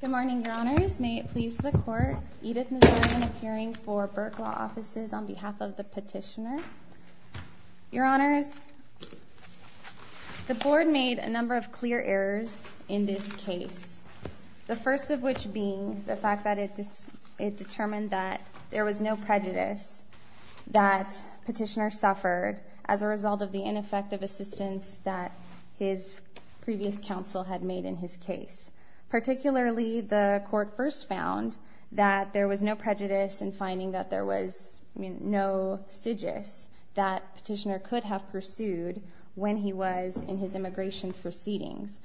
Good morning, Your Honors. May it please the Court, Edith Nazarian, appearing for Burke Law Offices on behalf of the petitioner. Your Honors, the Board made a number of clear errors in this case, the first of which being the fact that it determined that there was no assistance that his previous counsel had made in his case. Particularly, the Court first found that there was no prejudice in finding that there was no sigis that the petitioner could have pursued when he was in his immigration proceedings.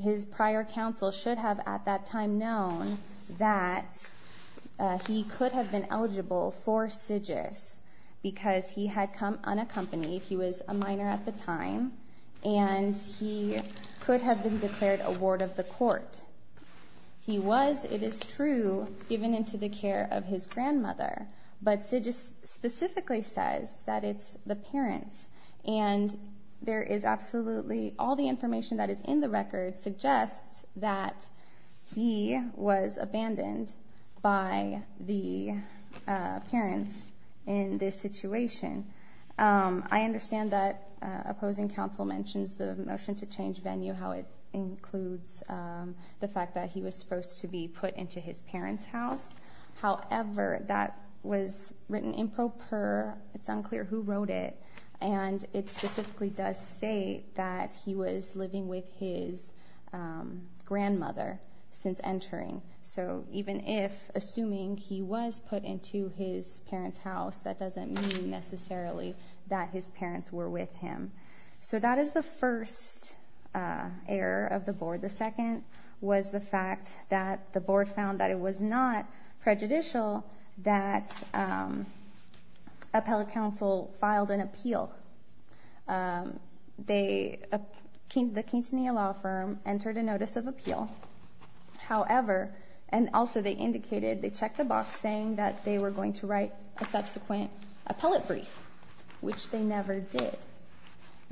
His prior counsel should have at that time known that he could have been eligible for sigis because he had come unaccompanied. He was a minor at the time, and he could have been declared a ward of the Court. He was, it is true, given into the care of his grandmother, but sigis specifically says that it's the parents. And there is absolutely, all the information that is in the record suggests that he was abandoned by the parents in this situation. I understand that opposing counsel mentions the motion to change venue, how it includes the fact that he was supposed to be put into his parents' house. However, that was written in pro per, it's unclear who wrote it, and it specifically does state that he was living with his grandmother since entering. So even if, assuming he was put into his parents' house, that doesn't mean necessarily that his parents were with him. So that is the first error of the Board. The second was the appeal. The Quintanilla law firm entered a notice of appeal. However, and also they indicated they checked the box saying that they were going to write a subsequent appellate brief, which they never did.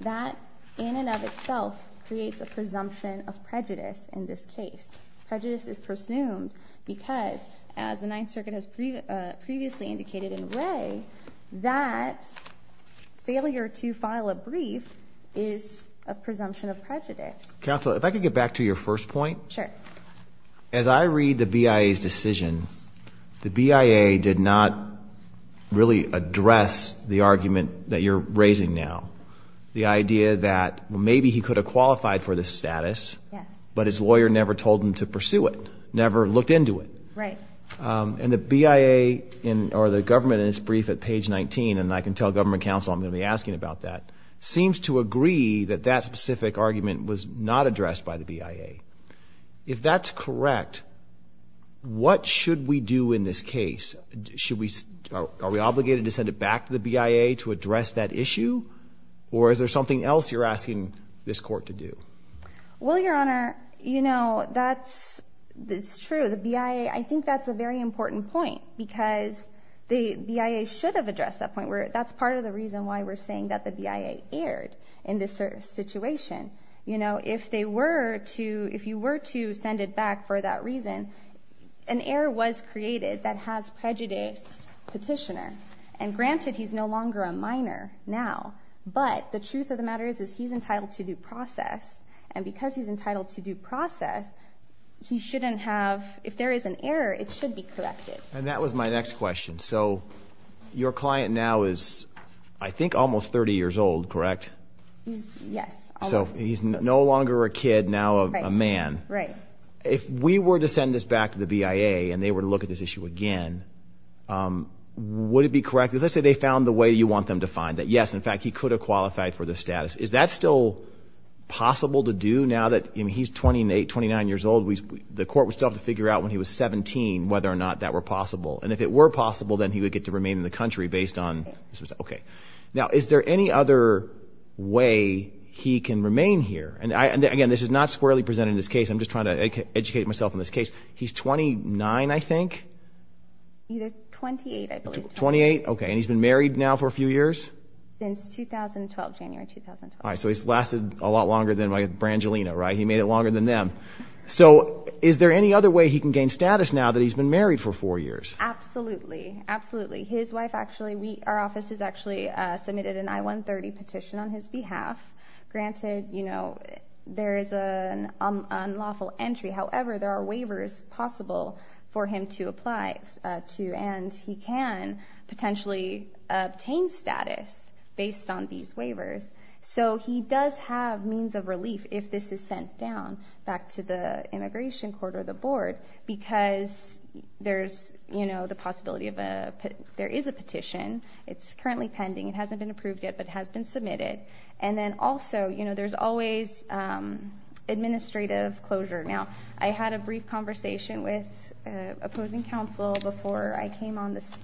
That in and of itself creates a presumption of prejudice in this case. Prejudice is presumed because, as the Ninth Circuit has previously indicated in failure to file a brief is a presumption of prejudice. Counsel, if I could get back to your first point. Sure. As I read the BIA's decision, the BIA did not really address the argument that you're raising now. The idea that maybe he could have qualified for this status, but his lawyer never told him to pursue it, never looked into it. Right. And the BIA or the government in its brief at page 19, and I can tell government counsel I'm going to be asking about that, seems to agree that that specific argument was not addressed by the BIA. If that's correct, what should we do in this case? Are we obligated to send it back to the BIA to address that issue? Or is there something else you're asking this court to do? Well, the BIA should have addressed that point. That's part of the reason why we're saying that the BIA erred in this situation. If they were to, if you were to send it back for that reason, an error was created that has prejudiced petitioner. And granted, he's no longer a minor now. But the truth of the matter is, is he's entitled to due process. And because he's entitled to due process, he shouldn't have, if there is an error, it should be corrected. And that was my next question. So your client now is, I think, almost 30 years old, correct? Yes. So he's no longer a kid, now a man. Right. If we were to send this back to the BIA and they were to look at this issue again, would it be correct? Let's say they found the way you want them to find that, yes, in fact, he could have qualified for the status. Is that still possible to do now that he's 28, 29 years old? The court would still have to figure out when he was 17, whether or not that were possible. And if it were possible, then he would get to remain in the country based on, okay. Now, is there any other way he can remain here? And I, again, this is not squarely presented in this case. I'm just trying to educate myself in this case. He's 29, I think. He's 28, I believe. 28. Okay. And he's been married now for a few years? Since 2012, January 2012. All right. So he's lasted a lot longer than my Brangelina, right? He made it now that he's been married for four years? Absolutely. Absolutely. His wife actually, we, our office has actually submitted an I-130 petition on his behalf. Granted, you know, there is an unlawful entry. However, there are waivers possible for him to apply to, and he can potentially obtain status based on these waivers. So he does have means of relief if this is sent down back to the immigration court or the board because there's, you know, the possibility of a, there is a petition. It's currently pending. It hasn't been approved yet, but it has been submitted. And then also, you know, there's always administrative closure. Now, I had a brief conversation with opposing counsel before I came on this,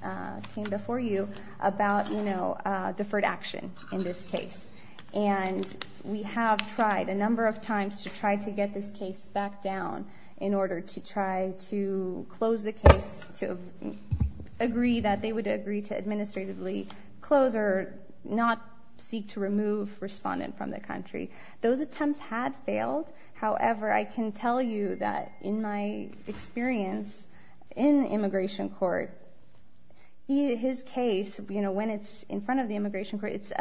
came before you about, you know, trying to get this case back down in order to try to close the case to agree that they would agree to administratively close or not seek to remove respondent from the country. Those attempts had failed. However, I can tell you that in my experience in immigration court, his case, you know, when it's in front of the immigration court, it's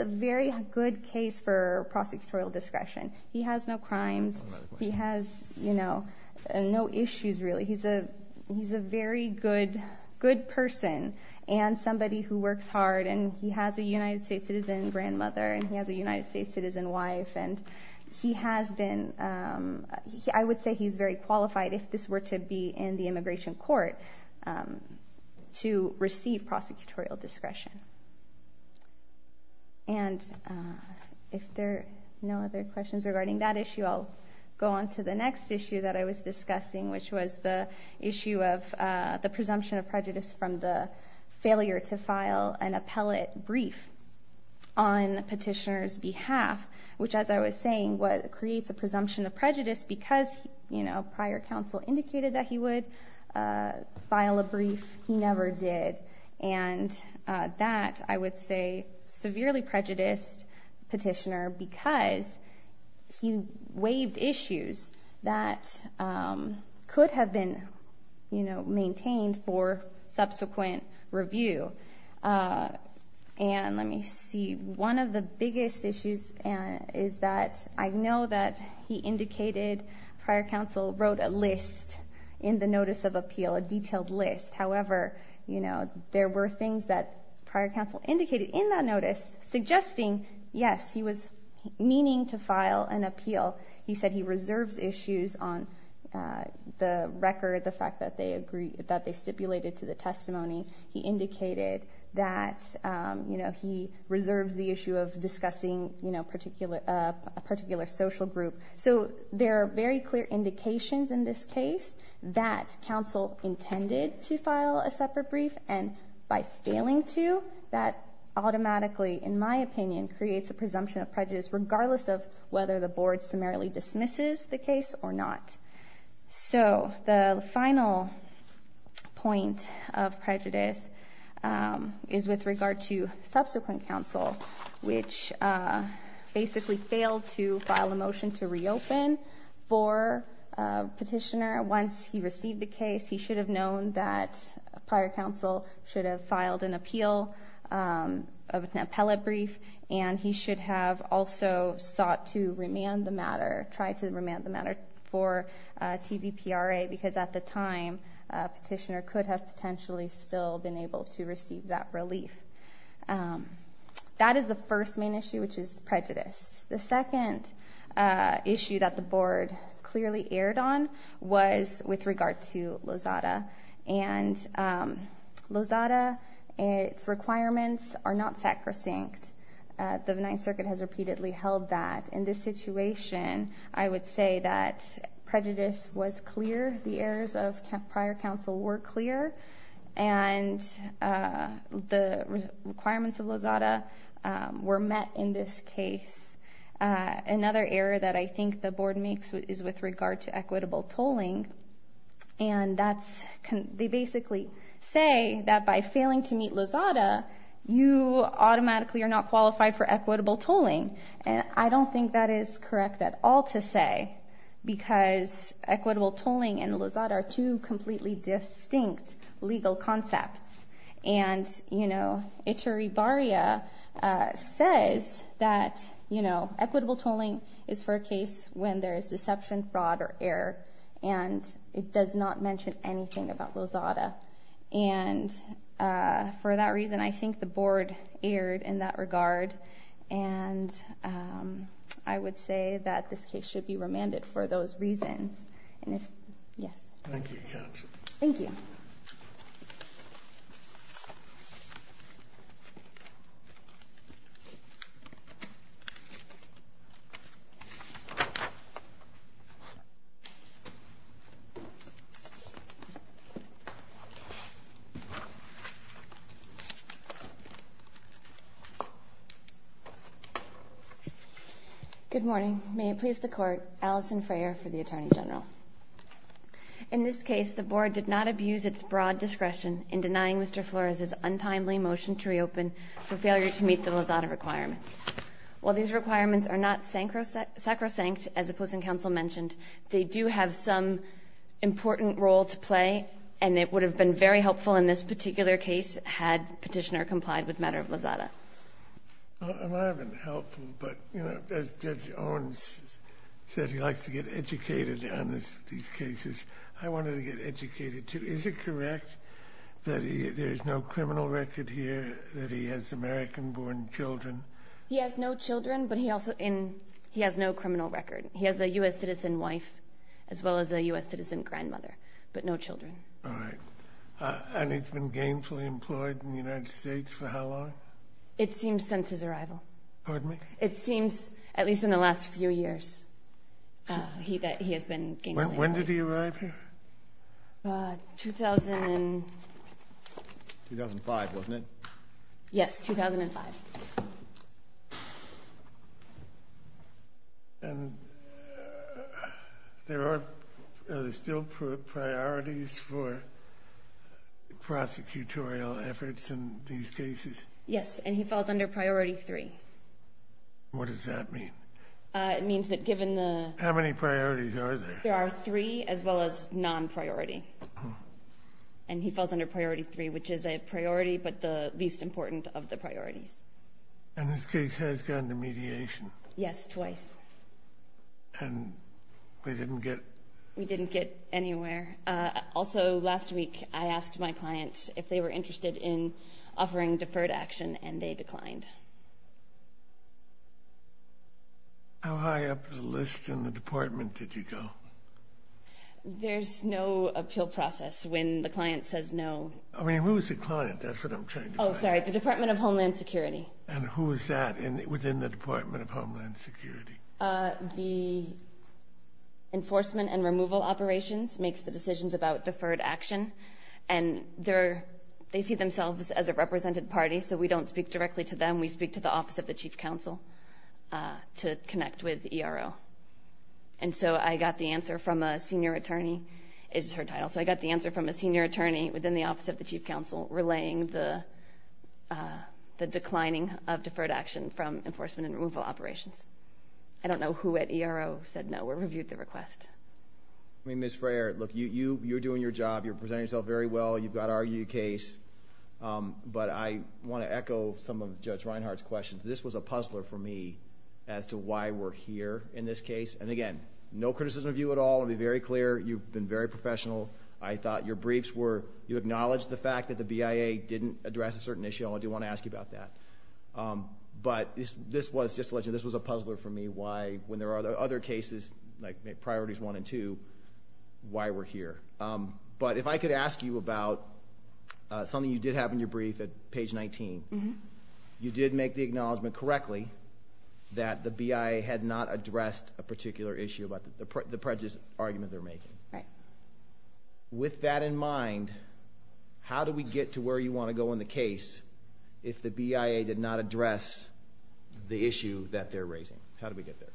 a very good case for prosecutorial discretion. He has no crimes. He has, you know, no issues really. He's a very good person and somebody who works hard and he has a United States citizen grandmother and he has a United States citizen wife. And he has been, I would say he's very qualified if this were to be in immigration court to receive prosecutorial discretion. And if there are no other questions regarding that issue, I'll go on to the next issue that I was discussing, which was the issue of the presumption of prejudice from the failure to file an appellate brief on petitioner's behalf, which as I was saying, what creates a presumption of prejudice because, you know, prior counsel indicated that he would file a brief. He never did. And that I would say severely prejudiced petitioner because he waived issues that could have been, you know, maintained for subsequent review. And let me see, one of the biggest issues is that I know that he indicated prior counsel wrote a list in the notice of appeal, a detailed list. However, you know, there were things that prior counsel indicated in that notice suggesting, yes, he was meaning to file an appeal. He said he reserves issues on the record, the fact that they stipulated to the testimony. He indicated that, you know, he reserves the issue of discussing, you know, a particular social group. So there are very clear indications in this case that counsel intended to file a separate brief and by failing to, that automatically, in my opinion, creates a presumption of prejudice regardless of whether the board summarily dismisses the case or not. So the final point of prejudice is with regard to subsequent counsel, which basically failed to file a motion to reopen for a petitioner once he received the case, he should have known that prior counsel should have filed an appeal, an appellate brief, and he should have also sought to remand the matter, tried to remand the matter for TVPRA because at the time, a petitioner could have potentially still been able to receive that relief. That is the first main issue, which is prejudice. The second issue that the board clearly erred on was with regard to Lozada, and Lozada, its requirements are not sacrosanct. The Ninth Circuit has repeatedly held that. In this situation, I would say that prejudice was clear, the errors of prior counsel were clear, and the requirements of Lozada were met in this case. Another error that I think the board makes is with regard to equitable tolling, and they basically say that by failing to meet Lozada, you automatically are not qualified for equitable tolling, and I don't think that is correct at all to say because equitable tolling and Lozada are two completely distinct legal concepts, and Iturribarria says that equitable tolling is for a case when there is deception, fraud, or error, and it does not mention anything about Lozada, and for that reason, I think the board erred in that regard, and I would say that this case should be remanded for those reasons. Yes, thank you. Good morning. May it please the Court, Alison Freyer for the Attorney General. In this case, the board did not abuse its broad discretion in denying Mr. Flores's untimely motion to reopen for failure to meet the Lozada requirements. While these requirements are not sacrosanct, as opposing counsel mentioned, they do have some important role to play, and it would have been very helpful in this particular case had petitioner complied with Lozada. It might have been helpful, but as Judge Owens said, he likes to get educated on these cases. I wanted to get educated, too. Is it correct that there is no criminal record here that he has American-born children? He has no children, but he has no criminal record. He has a U.S. citizen wife as well as a U.S. citizen grandmother, but no children. All right, and he's been gainfully employed in the United States for how long? It seems since his arrival. Pardon me? It seems, at least in the last few years, that he has been gainfully employed. When did he arrive here? 2005, wasn't it? Yes, 2005. And are there still priorities for prosecutorial efforts in these cases? Yes, and he falls under priority three. What does that mean? It means that given the... How many priorities are there? There are three as well as non-priority, and he falls under priority three, which is a priority but the least important of the priorities. And this case has gone to mediation? Yes, twice. And we didn't get... We didn't get anywhere. Also, last week, I asked my client if they were interested in offering deferred action, and they declined. How high up the list in the department did you go? There's no appeal process when the client says no. I mean, who's the client? That's what I'm trying to find. Oh, sorry, the Department of Homeland Security. And who is that within the Department of Homeland Security? The Enforcement and Removal Operations makes the decisions about deferred action, and they see themselves as a represented party, so we don't speak directly to them. We speak to the Office of the Chief Counsel to connect with ERO. And so I got the answer from a senior attorney, is her title. So I got the answer from a senior attorney within the uh, the declining of deferred action from Enforcement and Removal Operations. I don't know who at ERO said no or reviewed the request. I mean, Ms. Frayer, look, you're doing your job, you're presenting yourself very well, you've got our case, but I want to echo some of Judge Reinhart's questions. This was a puzzler for me as to why we're here in this case. And again, no criticism of you at all. I'll be very clear, you've been very professional. I thought your address a certain issue, I do want to ask you about that. But this was, just to let you know, this was a puzzler for me, why, when there are other cases, like Priorities 1 and 2, why we're here. But if I could ask you about something you did have in your brief at page 19, you did make the acknowledgment correctly that the BIA had not addressed a particular issue about the prejudice argument they're making. With that in mind, how do we get to where you want to go in the case if the BIA did not address the issue that they're raising? How do we get there?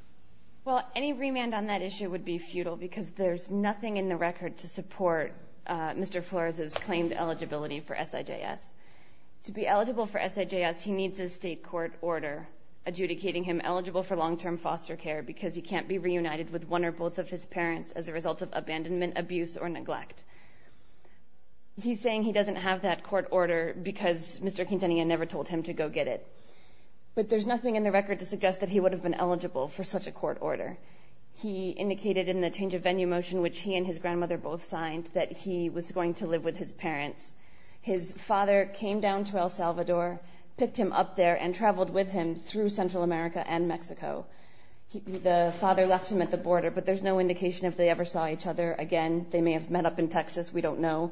Well, any remand on that issue would be futile because there's nothing in the record to support Mr. Flores' claimed eligibility for SIJS. To be eligible for SIJS, he needs a state court order adjudicating him eligible for long-term foster care because he can't be reunited with one or both of his parents as a result of abandonment, abuse, or neglect. He's saying he doesn't have that court order because Mr. Quintanilla never told him to go get it. But there's nothing in the record to suggest that he would have been eligible for such a court order. He indicated in the change of venue motion, which he and his grandmother both signed, that he was going to live with his parents. His father came down to El Salvador, picked him up there, and traveled with him through Central America and Mexico. The father left him at the border, but there's no indication if they ever saw each other again. They may have met up in Texas. We don't know.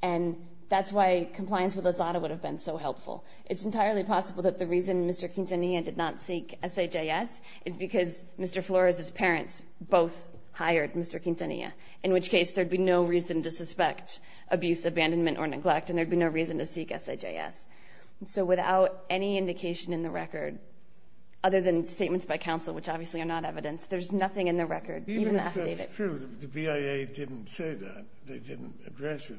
And that's why compliance with AZADA would have been so helpful. It's entirely possible that the reason Mr. Quintanilla did not seek SIJS is because Mr. Flores' parents both hired Mr. Quintanilla, in which case there'd be no reason to suspect abuse, abandonment, or neglect, and there'd be no reason to seek SIJS. So without any indication in the record, other than statements by counsel, which obviously are not evidence, there's nothing in the record, even the affidavit. The BIA didn't say that. They didn't address it.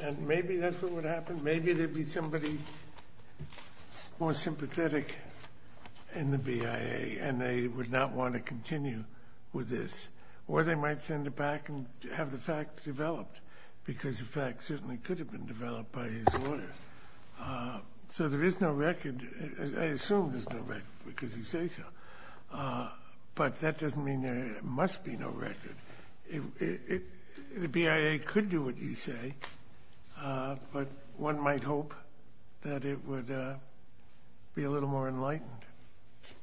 And maybe that's what would happen. Maybe there'd be somebody more sympathetic in the BIA, and they would not want to continue with this, or they might send it back and have the facts developed, because the facts certainly could have been developed by his lawyer. So there is no record. I assume there's no record, because you say so. But that doesn't mean there must be no record. The BIA could do what you say, but one might hope that it would be a little more enlightened.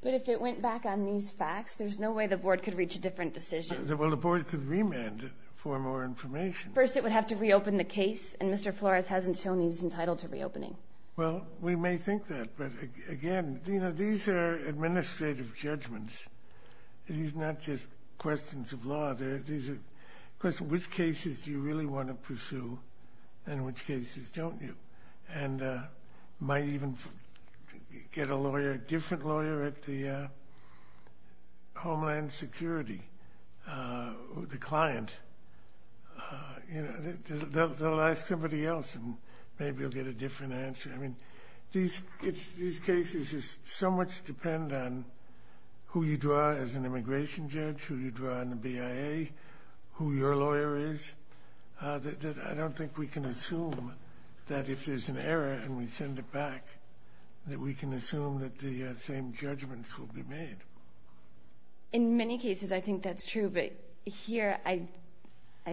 But if it went back on these facts, there's no way the board could reach a different decision. Well, the board could remand it for more information. First, it would have to reopen the case, and Mr. Flores hasn't shown he's entitled to reopening. Well, we may think that, but again, these are administrative judgments. These are not just questions of law. These are questions of which cases you really want to pursue and which cases don't you, and might even get a lawyer, a different lawyer at the These cases so much depend on who you draw as an immigration judge, who you draw in the BIA, who your lawyer is, that I don't think we can assume that if there's an error and we send it back, that we can assume that the same judgments will be made. In many cases, I think that's true, but here I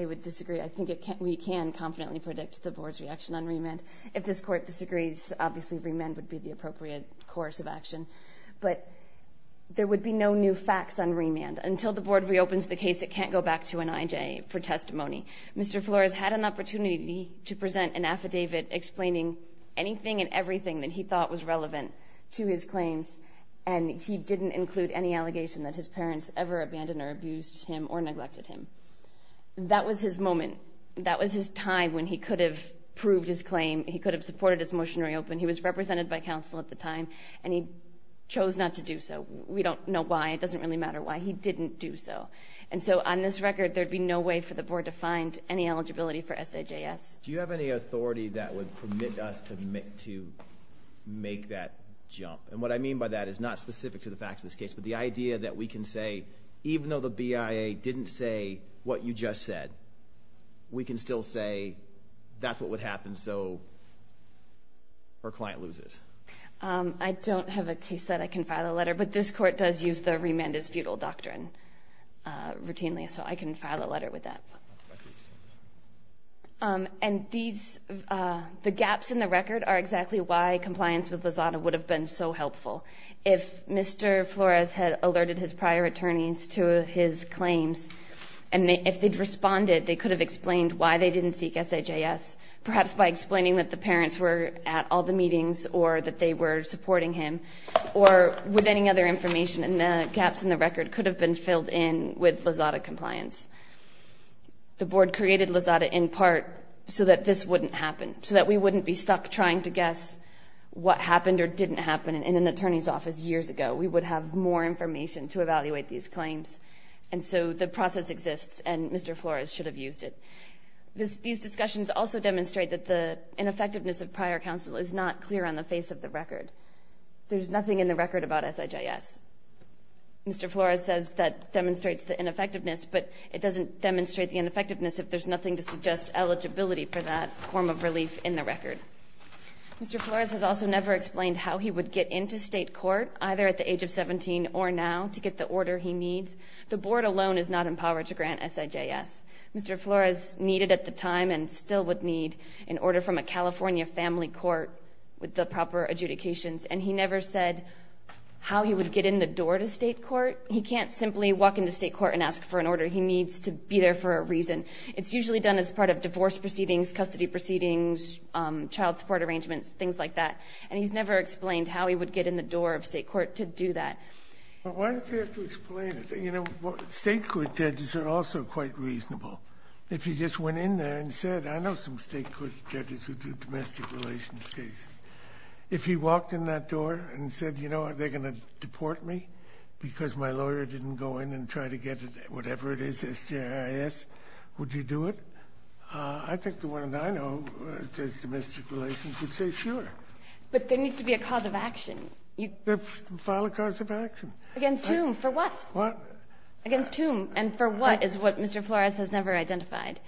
would disagree. I think we can confidently predict the board's reaction on remand. If this court disagrees, obviously remand would be the appropriate course of action, but there would be no new facts on remand. Until the board reopens the case, it can't go back to an IJ for testimony. Mr. Flores had an opportunity to present an affidavit explaining anything and everything that he thought was relevant to his claims, and he didn't include any allegation that his parents ever abandoned or abused him or neglected him. That was his moment. That was his time when he could have proved his claim. He could have supported his motion to reopen. He was represented by counsel at the time, and he chose not to do so. We don't know why. It doesn't really matter why he didn't do so, and so on this record, there'd be no way for the board to find any eligibility for SAJS. Do you have any authority that would permit us to make that jump? And what I mean by that is not specific to the facts of this case, but the idea that we can say, even though the BIA didn't say what you just said, we can still say that's what would happen so our client loses. I don't have a case that I can file a letter, but this court does use the remand is futile doctrine routinely, so I can file a letter with that. And the gaps in the record are exactly why compliance with Lozada would have been so important to his claims, and if they'd responded, they could have explained why they didn't seek SAJS, perhaps by explaining that the parents were at all the meetings or that they were supporting him, or with any other information, and the gaps in the record could have been filled in with Lozada compliance. The board created Lozada in part so that this wouldn't happen, so that we wouldn't be stuck trying to guess what happened or didn't happen in an attorney's office years ago. We would have more information to evaluate these claims, and so the process exists, and Mr. Flores should have used it. These discussions also demonstrate that the ineffectiveness of prior counsel is not clear on the face of the record. There's nothing in the record about SAJS. Mr. Flores says that demonstrates the ineffectiveness, but it doesn't demonstrate the ineffectiveness if there's nothing to suggest eligibility for that form of relief in the record. Mr. Flores has also never explained how he would get into state court, either at the age of 17 or now, to get the order he needs. The board alone is not empowered to grant SAJS. Mr. Flores needed at the time, and still would need, an order from a California family court with the proper adjudications, and he never said how he would get in the door to state court. He can't simply walk into state court and ask for an order. He needs to be there for a reason. It's usually done as part of divorce proceedings, custody proceedings, child support arrangements, things like that, and he's never explained how he would get in the door of state court to do that. Why does he have to explain it? You know, state court judges are also quite reasonable. If he just went in there and said, I know some state court judges who do domestic relations cases. If he walked in that door and said, you know, are they going to deport me because my I think the one that I know does domestic relations would say sure. But there needs to be a cause of action. File a cause of action. Against whom? For what? Against whom and for what is what Mr. Flores has never identified.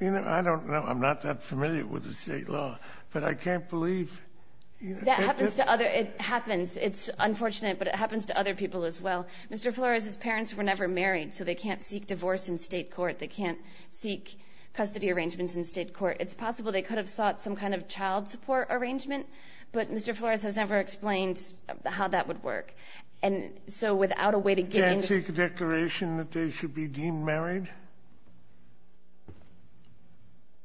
You know, I don't know. I'm not that familiar with the state law, but I can't believe. That happens to other, it happens. It's unfortunate, but it happens to other people as well. Mr. Flores, his parents were never married, so they can't seek divorce in state court. They can't seek custody arrangements in state court. It's possible they could have sought some kind of child support arrangement, but Mr. Flores has never explained how that would work. And so without a way to get in. They can't seek a declaration that they should be deemed married?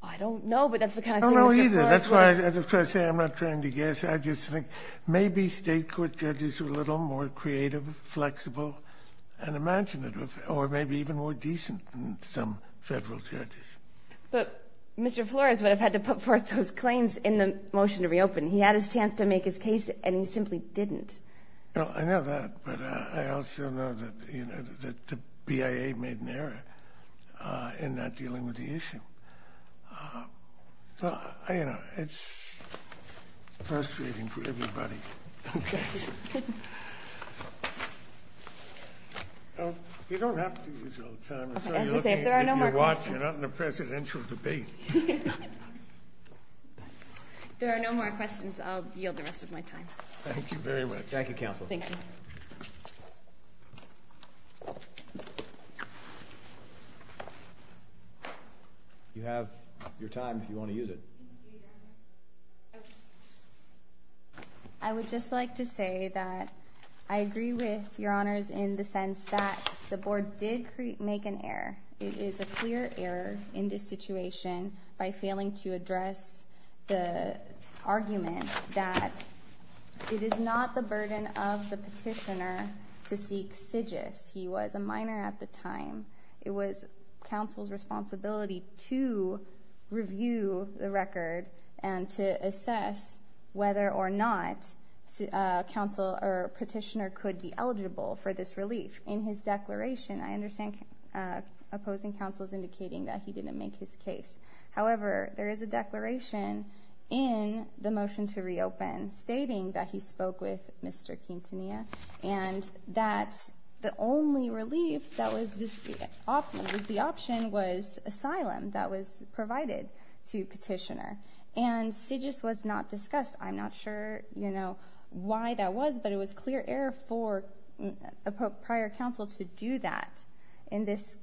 I don't know, but that's the kind of thing. I don't know either. That's why I say I'm not trying to guess. I just think maybe state court judges are a little more creative, flexible, and imaginative, or maybe even more decent than some federal judges. But Mr. Flores would have had to put forth those claims in the motion to reopen. He had his chance to make his case, and he simply didn't. Well, I know that, but I also know that the BIA made an error in that dealing with the issue. So, you know, it's frustrating for everybody. You don't have to use all the time. There are no more questions. I'll yield the rest of my time. Thank you very much. Thank you, counsel. You have your time if you want to use it. I would just like to say that I agree with your honors in the sense that the board did make an error. It is a clear error in this situation by failing to address the argument that it is not the burden of the petitioner to seek sigis. He was a minor at the time. It was counsel's responsibility to review the record and to assess whether or not a petitioner could be eligible for this relief. In his declaration, I understand opposing counsel is indicating that he didn't make his case. However, there is a declaration in the motion to reopen stating that he spoke with Mr. Quintanilla and that the only relief that was the option was asylum that was provided to petitioner. And sigis was not discussed. I'm not sure why that was, but it was clear error for prior counsel to do that in this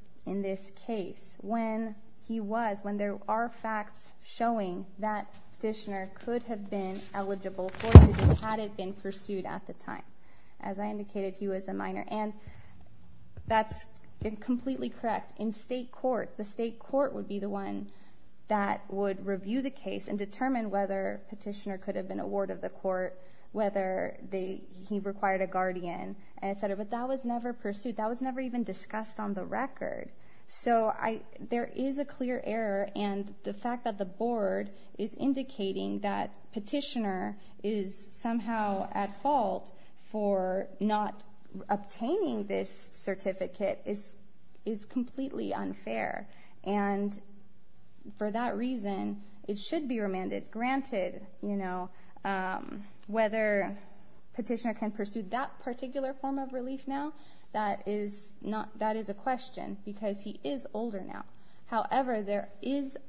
case when there are facts showing that petitioner could have been eligible for sigis had it been pursued at the time. As I indicated, he was a minor. And that's completely correct. In state court, the state court would be the one that would review the case and determine whether petitioner could have been awarded the court, whether he required a guardian, etc. But that was never pursued. That was never even discussed on the record. So there is a clear error. And the fact that the board is indicating that petitioner is somehow at fault for not obtaining this certificate is completely unfair. And for that reason, it should be remanded. Granted, whether petitioner can pursue that particular form of relief now, that is a question because he is older now. However, there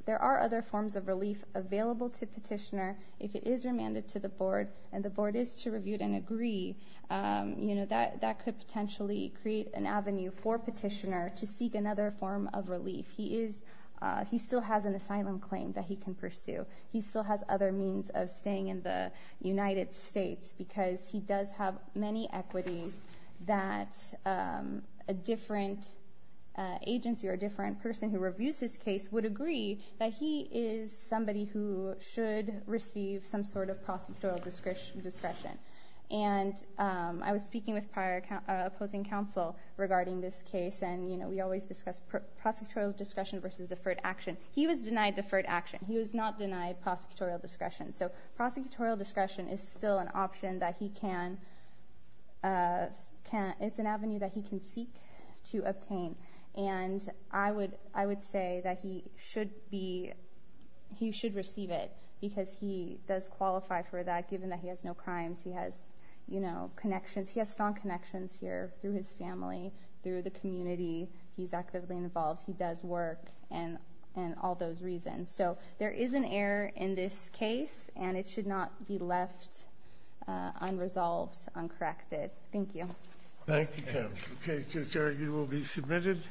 are other forms of relief available to petitioner if it is remanded to the board and the board is to review and agree. That could potentially create an avenue for petitioner to seek another form of relief. He still has an asylum claim that he can pursue. He still has other means of staying in the United States because he does have many equities that a different agency or a different person who reviews his case would agree that he is somebody who should receive some sort of prosecutorial discretion. And I was speaking with prior opposing counsel regarding this case. And we always discuss prosecutorial discretion versus deferred action. He was denied deferred action. He was not denied prosecutorial discretion. So prosecutorial discretion is still an option that he can seek to obtain. And I would say that he should receive it because he does qualify for that given that he has no crimes. He has connections. He has strong connections here through his family, through the community. He's actively involved. He does work and all those reasons. So there is an error in this case and it should not be left unresolved, uncorrected. Thank you. Thank you, counsel. The case is adjourned. You will be submitted.